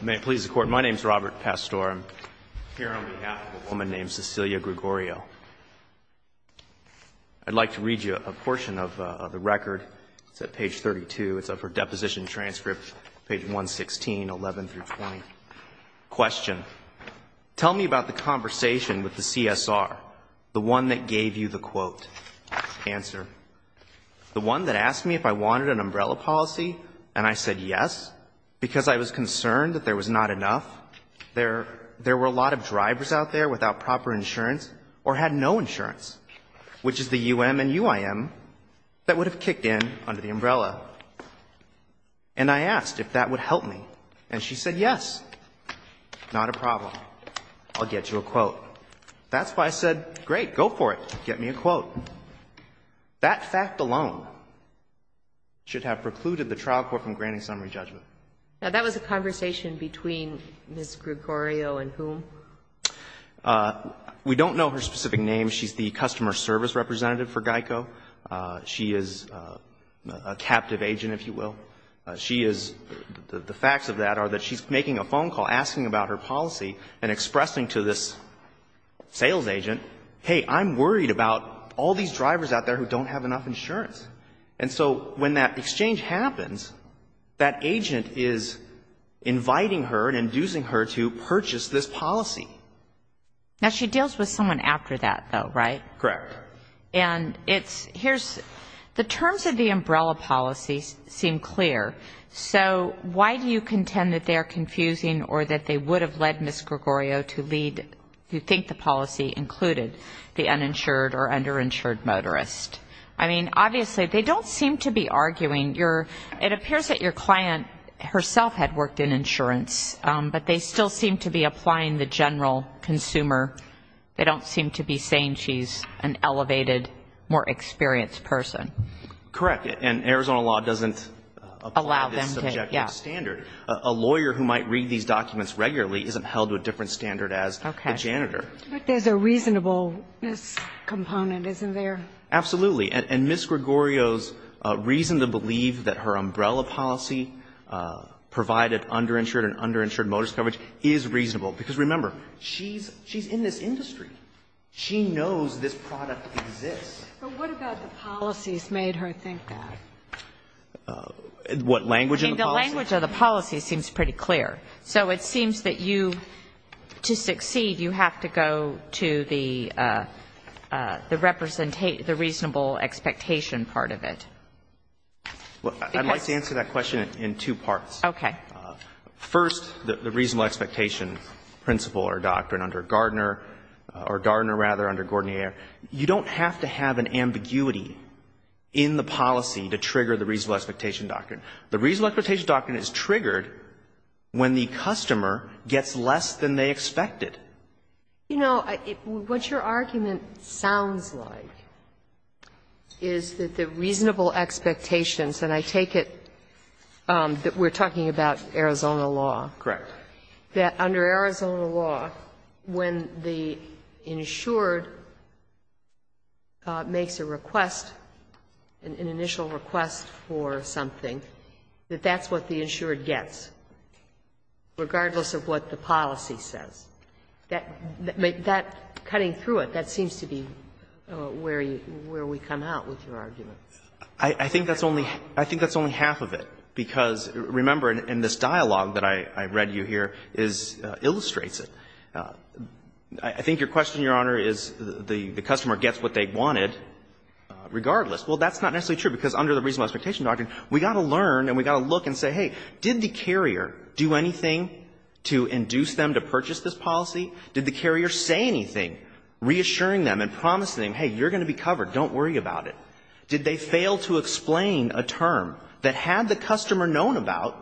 May it please the Court, my name is Robert Pastor. I'm here on behalf of a woman named Cecilia Gregorio. I'd like to read you a portion of the record, it's at page 32, it's up for deposition transcript, page 116, 11 through 20. Question. Tell me about the conversation with the CSR, the one that gave you the quote. Answer. The one that asked me if I wanted an umbrella policy and I said yes, because I was concerned that there was not enough, there were a lot of drivers out there without proper insurance or had no insurance, which is the UM and UIM that would have kicked in under the umbrella. And I asked if that would help me and she said yes, not a problem, I'll get you a quote. That's why I said great, go for it, get me a quote. That fact alone should have precluded the trial court from granting summary judgment. Now that was a conversation between Ms. Gregorio and whom? We don't know her specific name. She's the customer service representative for GEICO. She is a captive agent, if you will. She is, the facts of that are that she's making a phone call asking about her policy and expressing to this sales agent, hey, I'm worried about all these drivers out there who don't have enough insurance. And so when that exchange happens, that agent is inviting her and inducing her to purchase this policy. Now she deals with someone after that, though, right? Correct. And it's, here's, the terms of the umbrella policy seem clear. So why do you contend that they are confusing or that they would have led Ms. Gregorio to lead, you think the policy included the uninsured or underinsured motorist? I mean, obviously, they don't seem to be arguing your, it appears that your client herself had worked in insurance, but they still seem to be applying the general consumer. They don't seem to be saying she's an elevated, more experienced person. Correct. And Arizona law doesn't apply this subjective standard. A lawyer who might read these documents regularly isn't held to a different standard as a janitor. But there's a reasonableness component, isn't there? Absolutely. And Ms. Gregorio's reason to believe that her umbrella policy provided underinsured and underinsured motorist coverage is reasonable. Because remember, she's in this industry. She knows this product exists. But what about the policies made her think that? What language in the policy? So it seems that you, to succeed, you have to go to the representation, the reasonable expectation part of it. Well, I'd like to answer that question in two parts. Okay. First, the reasonable expectation principle or doctrine under Gardner, or Gardner, rather, under Gordnier. You don't have to have an ambiguity in the policy to trigger the reasonable expectation doctrine. The reasonable expectation doctrine is triggered when the customer gets less than they expected. You know, what your argument sounds like is that the reasonable expectations, and I take it that we're talking about Arizona law. Correct. But I take it that under Arizona law, when the insured makes a request, an initial request for something, that that's what the insured gets, regardless of what the policy says. That, cutting through it, that seems to be where we come out with your argument. I think that's only half of it, because, remember, in this dialogue that I read you here illustrates it. I think your question, Your Honor, is the customer gets what they wanted regardless. Well, that's not necessarily true, because under the reasonable expectation doctrine, we've got to learn and we've got to look and say, hey, did the carrier do anything to induce them to purchase this policy? Did the carrier say anything reassuring them and promising them, hey, you're going to be covered, don't worry about it? Did they fail to explain a term that had the customer known about,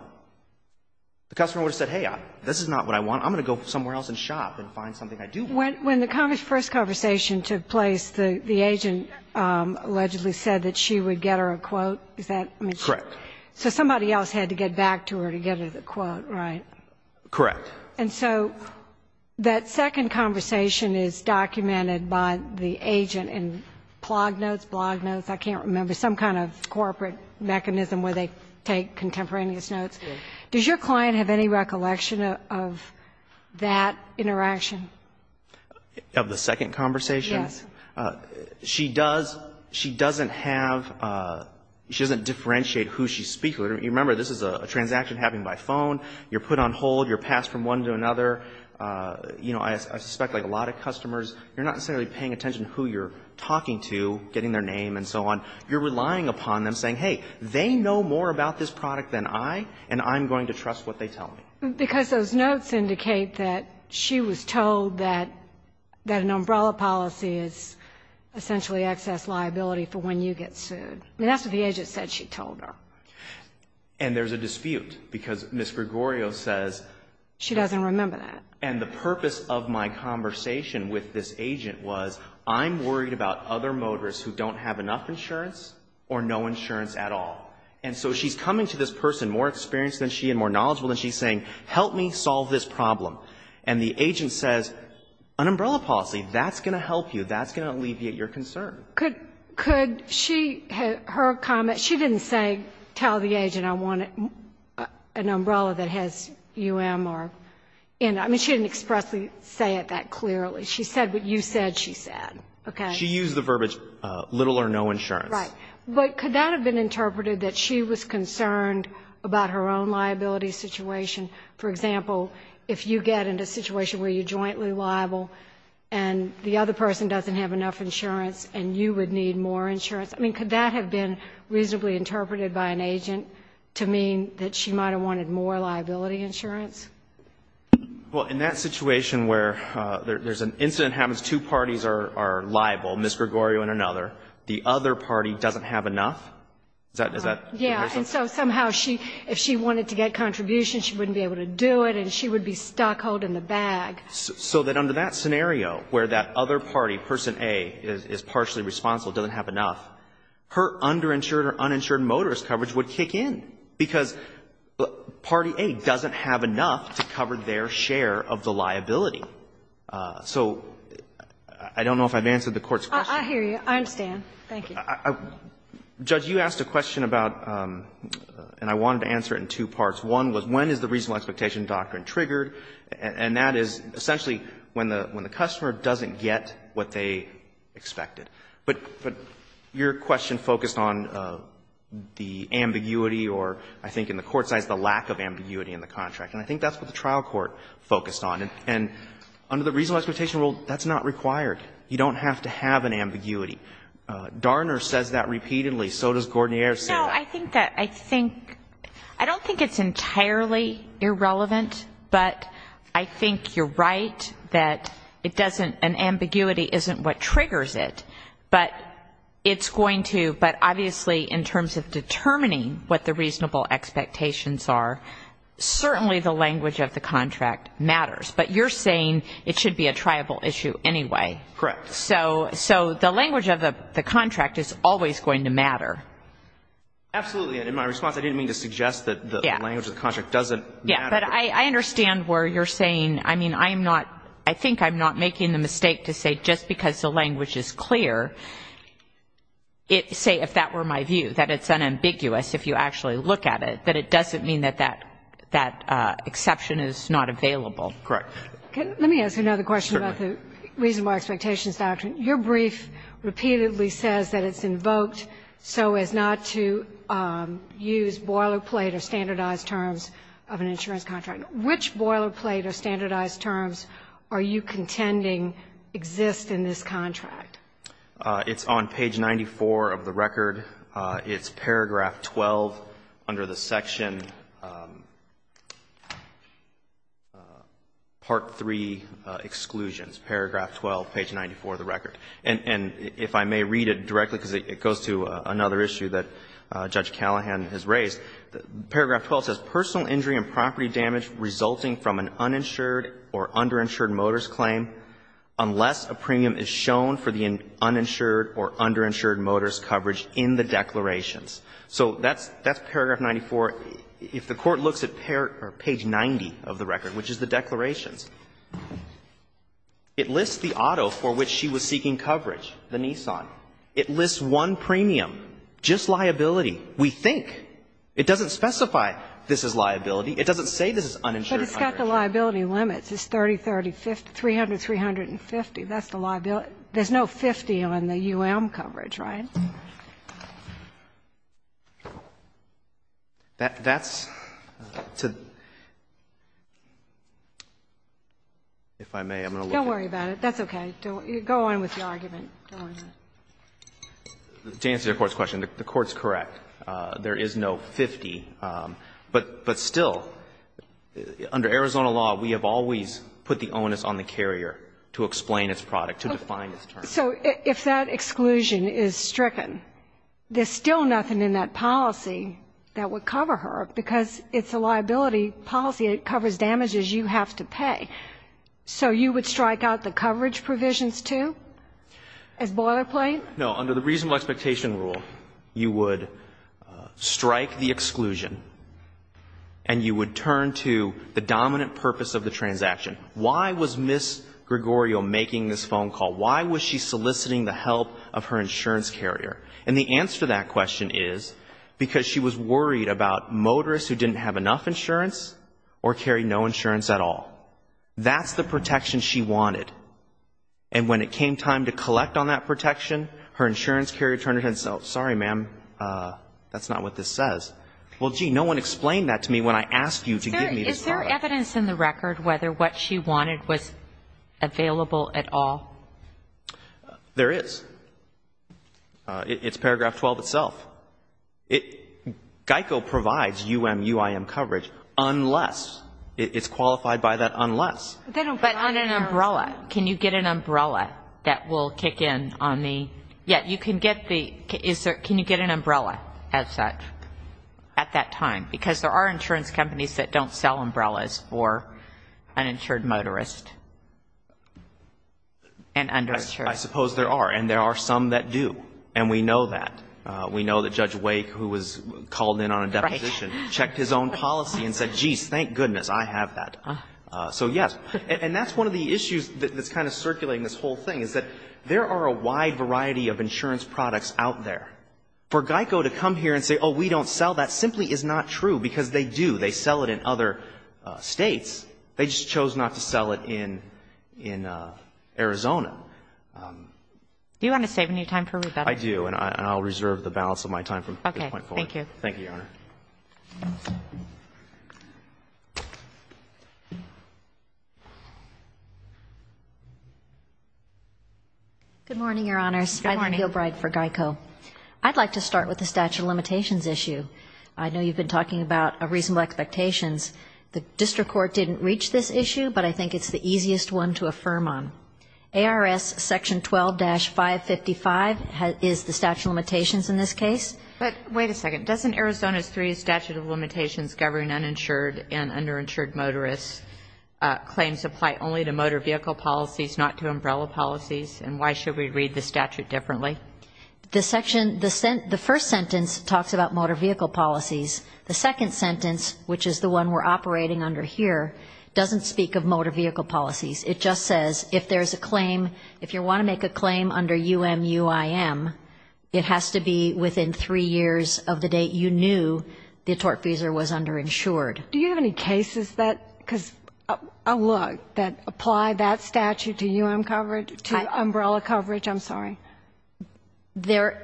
the customer would have said, hey, this is not what I want. I'm going to go somewhere else and shop and find something I do want. When the first conversation took place, the agent allegedly said that she would get her a quote. Is that correct? Correct. So somebody else had to get back to her to get her the quote, right? Correct. And so that second conversation is documented by the agent in plug notes, blog notes, I can't remember, some kind of corporate mechanism where they take contemporaneous notes. Does your client have any recollection of that interaction? Of the second conversation? Yes. She does. She doesn't have, she doesn't differentiate who she's speaking with. Remember, this is a transaction happening by phone. You're put on hold. You're passed from one to another. You know, I suspect like a lot of customers, you're not necessarily paying attention to who you're talking to, getting their name and so on. You're relying upon them saying, hey, they know more about this product than I, and I'm going to trust what they tell me. Because those notes indicate that she was told that an umbrella policy is essentially excess liability for when you get sued. And that's what the agent said she told her. And there's a dispute because Ms. Gregorio says. She doesn't remember that. And the purpose of my conversation with this agent was, I'm worried about other motorists who don't have enough insurance or no insurance at all. And so she's coming to this person more experienced than she and more knowledgeable than she, saying, help me solve this problem. And the agent says, an umbrella policy, that's going to help you. That's going to alleviate your concern. Could she, her comment, she didn't say tell the agent I wanted an umbrella that has UM or, I mean, she didn't expressly say it that clearly. She said what you said she said. Okay? She used the verbiage little or no insurance. Right. But could that have been interpreted that she was concerned about her own liability situation? For example, if you get in a situation where you're jointly liable and the other person doesn't have enough insurance and you would need more insurance, I mean, could that have been reasonably interpreted by an agent to mean that she might have wanted more insurance? Well, in that situation where there's an incident happens, two parties are liable, Ms. Gregorio and another. The other party doesn't have enough? Is that? Yeah. And so somehow she, if she wanted to get contributions, she wouldn't be able to do it and she would be stuck holding the bag. So that under that scenario where that other party, person A, is partially responsible, doesn't have enough, her underinsured or uninsured motorist coverage would kick in, because party A doesn't have enough to cover their share of the liability. So I don't know if I've answered the Court's question. I hear you. I understand. Thank you. Judge, you asked a question about, and I wanted to answer it in two parts. One was when is the reasonable expectation doctrine triggered, and that is essentially when the customer doesn't get what they expected. But your question focused on the ambiguity or, I think, in the Court's eyes, the lack of ambiguity in the contract. And I think that's what the trial court focused on. And under the reasonable expectation rule, that's not required. You don't have to have an ambiguity. Darner says that repeatedly. So does Gordon-Years. No, I think that, I think, I don't think it's entirely irrelevant, but I think you're right that it doesn't, an ambiguity isn't what triggers it. But it's going to, but obviously in terms of determining what the reasonable expectations are, certainly the language of the contract matters. But you're saying it should be a triable issue anyway. Correct. So the language of the contract is always going to matter. Absolutely. In my response, I didn't mean to suggest that the language of the contract doesn't matter. Yeah, but I understand where you're saying, I mean, I am not, I think I'm not making the mistake to say just because the language is clear, say, if that were my view, that it's unambiguous if you actually look at it, that it doesn't mean that that exception is not available. Correct. Let me ask another question about the reasonable expectations doctrine. Your brief repeatedly says that it's invoked so as not to use boilerplate or standardized terms of an insurance contract. Which boilerplate or standardized terms are you contending exist in this contract? It's on page 94 of the record. It's paragraph 12 under the section part 3 exclusions, paragraph 12, page 94 of the record. And if I may read it directly, because it goes to another issue that Judge Callahan has raised, paragraph 12 says, personal injury and property damage resulting from an uninsured or underinsured motorist claim unless a premium is shown for the uninsured or underinsured motorist coverage in the declarations. So that's paragraph 94. If the Court looks at page 90 of the record, which is the declarations, it lists the auto for which she was seeking coverage, the Nissan. It lists one premium, just liability. We think. It doesn't specify this is liability. It doesn't say this is uninsured or underinsured. But it's got the liability limits. It's 30, 30, 50, 300, 350. That's the liability. There's no 50 on the U.M. coverage, right? That's to the – if I may, I'm going to look at it. Don't worry about it. That's okay. Go on with the argument. Don't worry about it. To answer your Court's question, the Court's correct. There is no 50. But still, under Arizona law, we have always put the onus on the carrier to explain its product, to define its terms. So if that exclusion is stricken, there's still nothing in that policy that would cover her, because it's a liability policy. It covers damages you have to pay. So you would strike out the coverage provisions, too? As boilerplate? No, under the reasonable expectation rule, you would strike the exclusion, and you would turn to the dominant purpose of the transaction. Why was Ms. Gregorio making this phone call? Why was she soliciting the help of her insurance carrier? And the answer to that question is because she was worried about motorists who didn't have enough insurance or carried no insurance at all. That's the protection she wanted. And when it came time to collect on that protection, her insurance carrier turned and said, sorry, ma'am, that's not what this says. Well, gee, no one explained that to me when I asked you to give me this product. Is there evidence in the record whether what she wanted was available at all? There is. It's paragraph 12 itself. GEICO provides UMUIM coverage unless it's qualified by that unless. But on an umbrella. Can you get an umbrella that will kick in on the, yeah, you can get the, is there, can you get an umbrella as such at that time? Because there are insurance companies that don't sell umbrellas for uninsured motorists and underinsured. I suppose there are, and there are some that do, and we know that. We know that Judge Wake, who was called in on a deposition, checked his own policy and said, jeez, thank goodness I have that. So, yes. And that's one of the issues that's kind of circulating this whole thing, is that there are a wide variety of insurance products out there. For GEICO to come here and say, oh, we don't sell that, simply is not true, because they do. They sell it in other States. They just chose not to sell it in Arizona. Do you want to save any time for rebuttal? I do, and I'll reserve the balance of my time from this point forward. Thank you. Thank you. Good morning, Your Honors. Good morning. Eileen Gilbride for GEICO. I'd like to start with the statute of limitations issue. I know you've been talking about reasonable expectations. The district court didn't reach this issue, but I think it's the easiest one to affirm on. ARS section 12-555 is the statute of limitations in this case. But wait a second. Doesn't Arizona's three statute of limitations govern uninsured and underinsured motorists claims apply only to motor vehicle policies, not to umbrella policies, and why should we read the statute differently? The first sentence talks about motor vehicle policies. The second sentence, which is the one we're operating under here, doesn't speak of motor vehicle policies. It just says if there's a claim, if you want to make a claim under UMUIM, it has to be within three years of the date you knew the tortfeasor was underinsured. Do you have any cases that, because, oh, look, that apply that statute to UM coverage, to umbrella coverage? I'm sorry. There,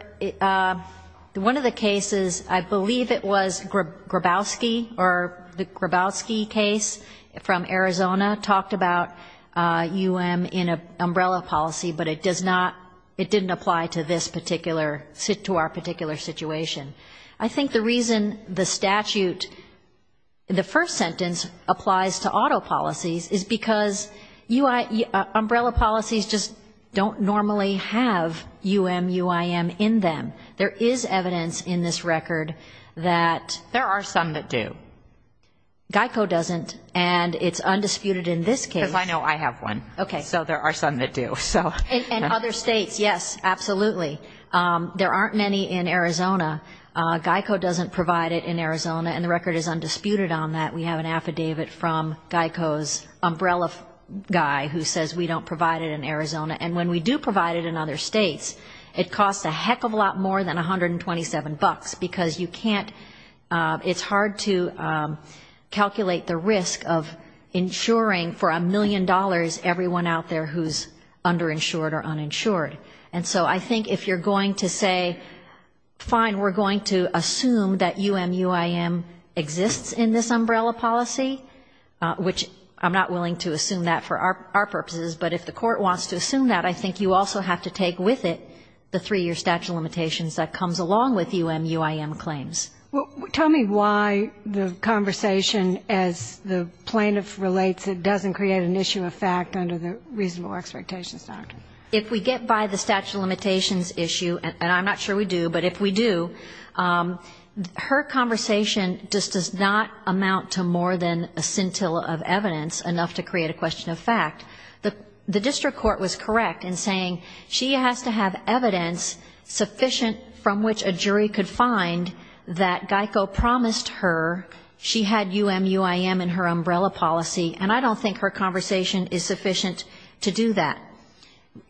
one of the cases, I believe it was Grabowski, or the Grabowski case from Arizona talked about UM in an umbrella policy, but it does not, it didn't apply to this particular, to our particular situation. I think the reason the statute, the first sentence applies to auto policies is because umbrella policies just don't normally have UMUIM in them. There is evidence in this record that there are some that do. GEICO doesn't, and it's undisputed in this case. Because I know I have one. Okay. So there are some that do. In other states, yes, absolutely. There aren't many in Arizona. GEICO doesn't provide it in Arizona, and the record is undisputed on that. We have an affidavit from GEICO's umbrella guy who says we don't provide it in Arizona. And when we do provide it in other states, it costs a heck of a lot more than 127 bucks, because you can't, it's hard to calculate the risk of insuring for a million dollars everyone out there who's underinsured or uninsured. And so I think if you're going to say, fine, we're going to assume that UMUIM exists in this umbrella policy, which I'm not willing to assume that for our purposes, but if the court wants to assume that, I think you also have to take with it the three-year statute of limitations that comes along with UMUIM claims. Well, tell me why the conversation, as the plaintiff relates it, doesn't create an issue of fact under the reasonable expectations doctrine. If we get by the statute of limitations issue, and I'm not sure we do, but if we do, her conversation just does not amount to more than a scintilla of evidence, enough to create a question of fact. The district court was correct in saying she has to have evidence sufficient from which a jury could find that GEICO promised her she had UMUIM in her umbrella policy, and I don't think her conversation is sufficient to do that.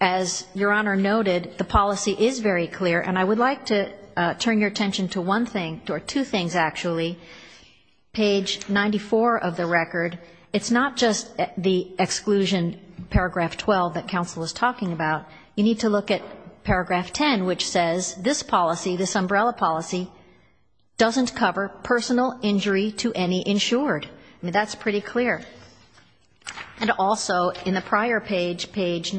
As Your Honor noted, the policy is very clear, and I would like to turn your attention to one thing, or two things, actually. Page 94 of the record, it's not just the exclusion, paragraph 12, that counsel is talking about. You need to look at paragraph 10, which says this policy, this umbrella policy, doesn't cover personal injury to any insured. I mean, that's pretty clear. And also in the prior page, page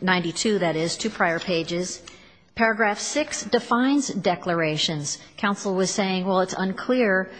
92, that is, two prior pages, paragraph 6 defines declarations. Counsel was saying, well, it's unclear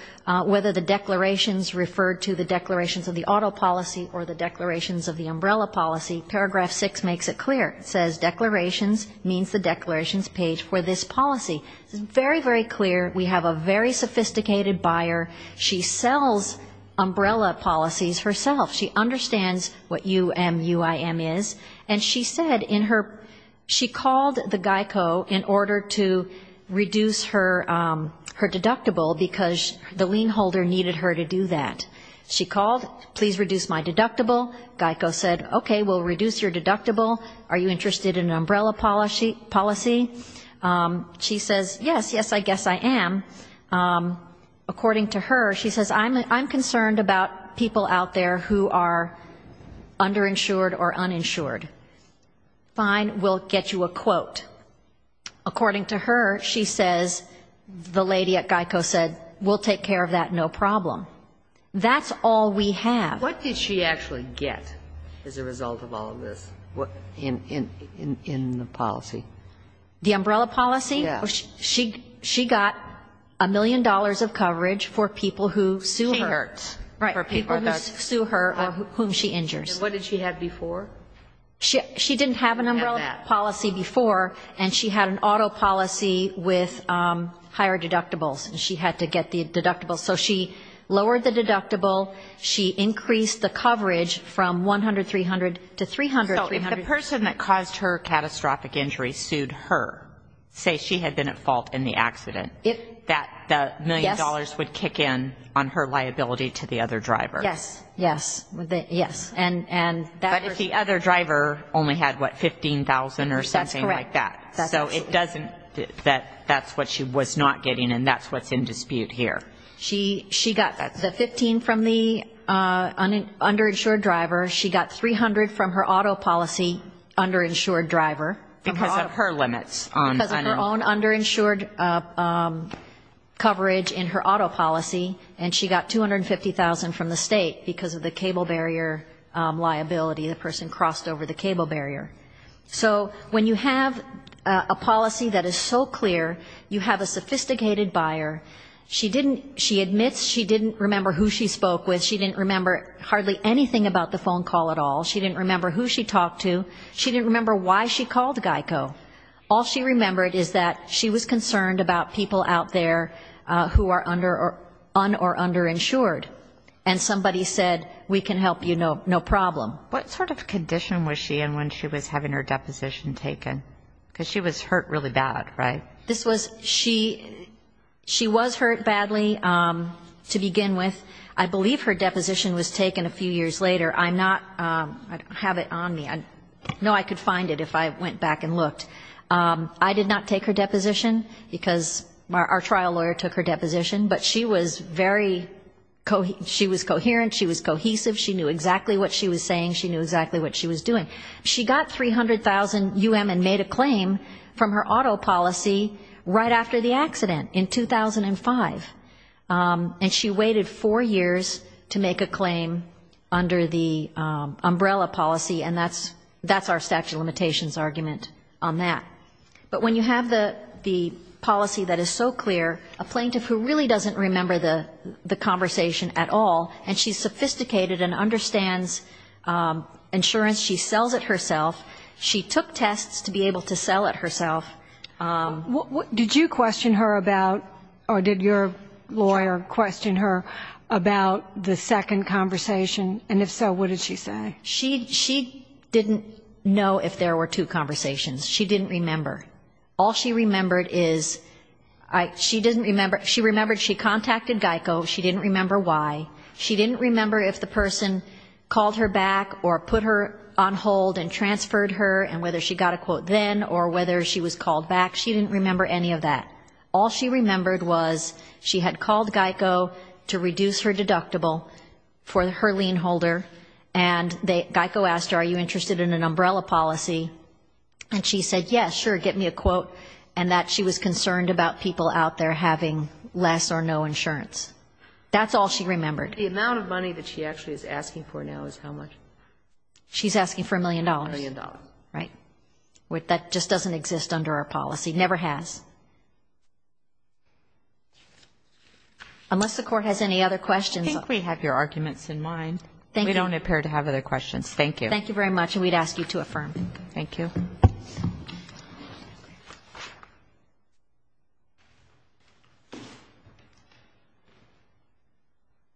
whether the declarations refer to the declarations of the auto policy or the declarations of the umbrella policy. Paragraph 6 makes it clear. It says declarations means the declarations page for this policy. It's very, very clear. We have a very sophisticated buyer. She sells umbrella policies herself. She understands what UMUIM is. And she said in her, she called the GEICO in order to reduce her deductible, because the lien holder needed her to do that. She called, please reduce my deductible. GEICO said, okay, we'll reduce your deductible. Are you interested in an umbrella policy? She says, yes, yes, I guess I am. According to her, she says, I'm concerned about people out there who are underinsured or uninsured. Fine, we'll get you a quote. According to her, she says, the lady at GEICO said, we'll take care of that, no problem. That's all we have. What did she actually get as a result of all of this in the policy? The umbrella policy? Yes. So she got a million dollars of coverage for people who sue her. She hurts. Right, people who sue her or whom she injures. And what did she have before? She didn't have an umbrella policy before, and she had an auto policy with higher deductibles. She had to get the deductible. So she lowered the deductible. She increased the coverage from 100, 300 to 300. So if the person that caused her catastrophic injury sued her, say she had been at fault in the accident, that the million dollars would kick in on her liability to the other driver. Yes, yes, yes. But if the other driver only had, what, 15,000 or something like that. That's correct. So it doesn't, that's what she was not getting, and that's what's in dispute here. She got the 15 from the underinsured driver. She got 300 from her auto policy underinsured driver. Because of her limits. Because of her own underinsured coverage in her auto policy, and she got 250,000 from the state because of the cable barrier liability, the person crossed over the cable barrier. So when you have a policy that is so clear, you have a sophisticated buyer. She admits she didn't remember who she spoke with. She didn't remember hardly anything about the phone call at all. She didn't remember who she talked to. She didn't remember why she called GEICO. All she remembered is that she was concerned about people out there who are under or un- or underinsured, and somebody said, we can help you, no problem. What sort of condition was she in when she was having her deposition taken? Because she was hurt really bad, right? This was, she was hurt badly to begin with. I believe her deposition was taken a few years later. I'm not, I don't have it on me. I know I could find it if I went back and looked. I did not take her deposition, because our trial lawyer took her deposition. But she was very, she was coherent. She was cohesive. She knew exactly what she was saying. She knew exactly what she was doing. She got 300,000 UM and made a claim from her auto policy right after the accident in 2005. And she waited four years to make a claim under the umbrella policy, and that's our statute of limitations argument on that. But when you have the policy that is so clear, a plaintiff who really doesn't remember the conversation at all, and she's sophisticated and understands insurance, she sells it herself. She took tests to be able to sell it herself. Did you question her about, or did your lawyer question her about the second conversation? And if so, what did she say? She didn't know if there were two conversations. She didn't remember. All she remembered is, she didn't remember, she remembered she contacted GEICO, she didn't remember why, she didn't remember if the person called her back or put her on hold and transferred her, and whether she got a quote then or whether she was called back. She didn't remember any of that. All she remembered was she had called GEICO to reduce her deductible for her lien holder, and GEICO asked her, are you interested in an umbrella policy? And she said, yes, sure, get me a quote, and that she was concerned about people out there having less or no insurance. That's all she remembered. The amount of money that she actually is asking for now is how much? She's asking for a million dollars. A million dollars. Right. That just doesn't exist under our policy, never has. Unless the Court has any other questions. I think we have your arguments in mind. Thank you. We don't appear to have other questions. Thank you. Thank you very much, and we'd ask you to affirm. Thank you.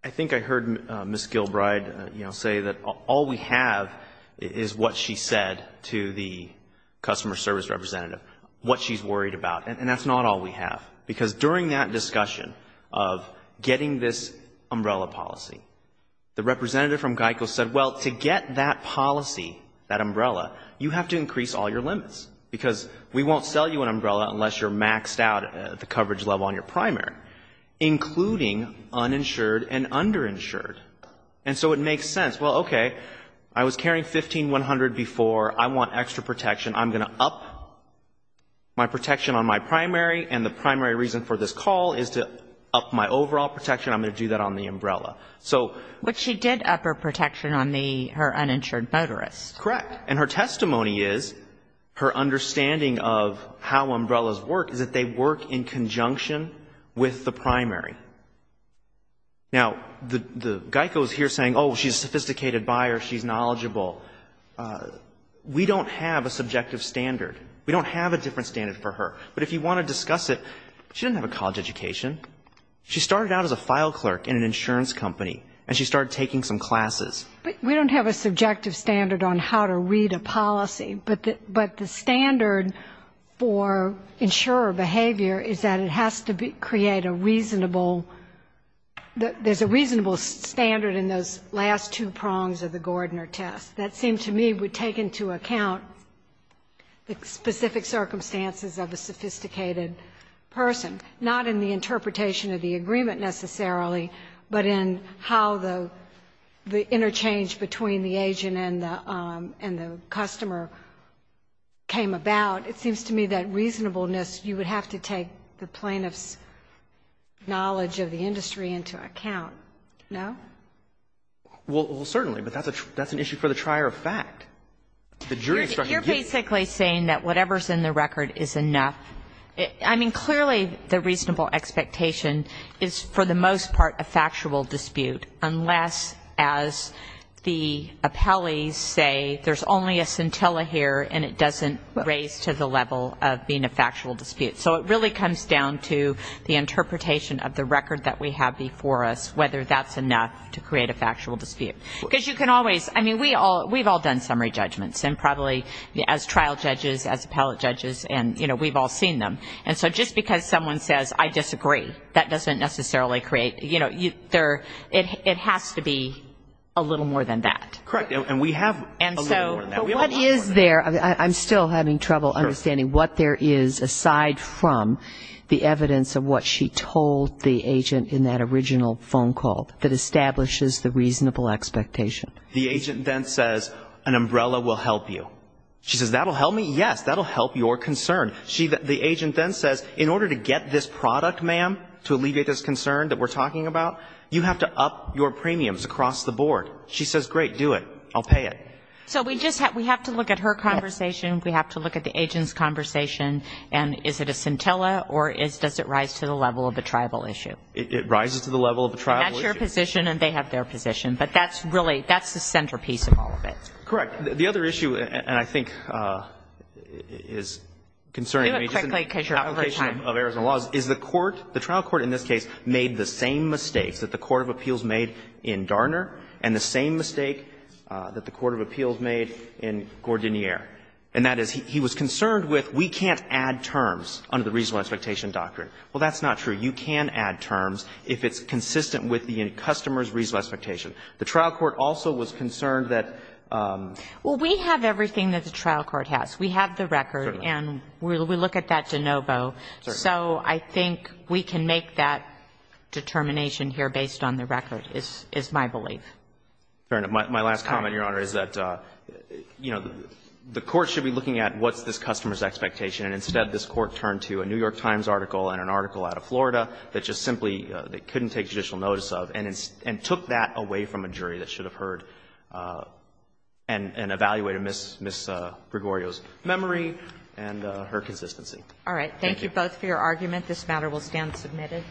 I think I heard Ms. Gilbride say that all we have is what she said to the customer service representative, what she's worried about, and that's not all we have, because during that discussion of getting this umbrella policy, the representative from GEICO said, well, to get that policy, that umbrella, you have to increase all your limits, because we won't sell you an umbrella unless you're maxed out at the coverage level on your primary, including uninsured and underinsured. And so it makes sense. Well, okay, I was carrying 15-100 before. I want extra protection. I'm going to up my protection on my primary, and the primary reason for this call is to up my overall protection. I'm going to do that on the umbrella. But she did up her protection on her uninsured motorist. Correct. And her testimony is, her understanding of how umbrellas work is that they work in conjunction with the primary. Now, the GEICO is here saying, oh, she's a sophisticated buyer, she's knowledgeable. We don't have a subjective standard. We don't have a different standard for her. But if you want to discuss it, she didn't have a college education. She started out as a file clerk in an insurance company, and she started taking some classes. But we don't have a subjective standard on how to read a policy. But the standard for insurer behavior is that it has to create a reasonable that there's a reasonable standard in those last two prongs of the Gordner test. That seemed to me would take into account the specific circumstances of a sophisticated person, not in the interpretation of the agreement necessarily, but in how the interchange between the agent and the customer came about. It seems to me that reasonableness, you would have to take the plaintiff's knowledge of the industry into account. No? Well, certainly. But that's an issue for the trier of fact. The jury structure gives you the right to say that. Whatever's in the record is enough. I mean, clearly the reasonable expectation is for the most part a factual dispute, unless, as the appellees say, there's only a scintilla here, and it doesn't raise to the level of being a factual dispute. So it really comes down to the interpretation of the record that we have before us, whether that's enough to create a factual dispute. Because you can always, I mean, we've all done summary judgments, and probably as trial judges, as appellate judges, and, you know, we've all seen them. And so just because someone says, I disagree, that doesn't necessarily create, you know, it has to be a little more than that. Correct. And we have a little more than that. But what is there? I'm still having trouble understanding what there is aside from the evidence of what she told the agent in that original phone call that establishes the reasonable expectation. The agent then says, an umbrella will help you. She says, that will help me? Yes, that will help your concern. The agent then says, in order to get this product, ma'am, to alleviate this concern that we're talking about, you have to up your premiums across the board. She says, great, do it, I'll pay it. So we have to look at her conversation, we have to look at the agent's conversation, and is it a scintilla or does it rise to the level of a tribal issue? It rises to the level of a tribal issue. And that's your position and they have their position. But that's really, that's the centerpiece of all of it. Correct. The other issue, and I think is concerning to me, just in application of Arizona laws, is the court, the trial court in this case, made the same mistakes that the court of appeals made in Garner and the same mistake that the court of appeals made in Gordiniere. And that is, he was concerned with, we can't add terms under the reasonable expectation doctrine. Well, that's not true. You can add terms if it's consistent with the customer's reasonable expectation. The trial court also was concerned that ---- Well, we have everything that the trial court has. We have the record and we look at that de novo. So I think we can make that determination here based on the record, is my belief. Fair enough. My last comment, Your Honor, is that, you know, the court should be looking at what's this customer's expectation. And instead, this Court turned to a New York Times article and an article out of Florida that just simply couldn't take judicial notice of and took that away from a jury that should have heard and evaluated Ms. Gregorio's memory and her consistency. All right. Thank you both for your argument. This matter will stand submitted.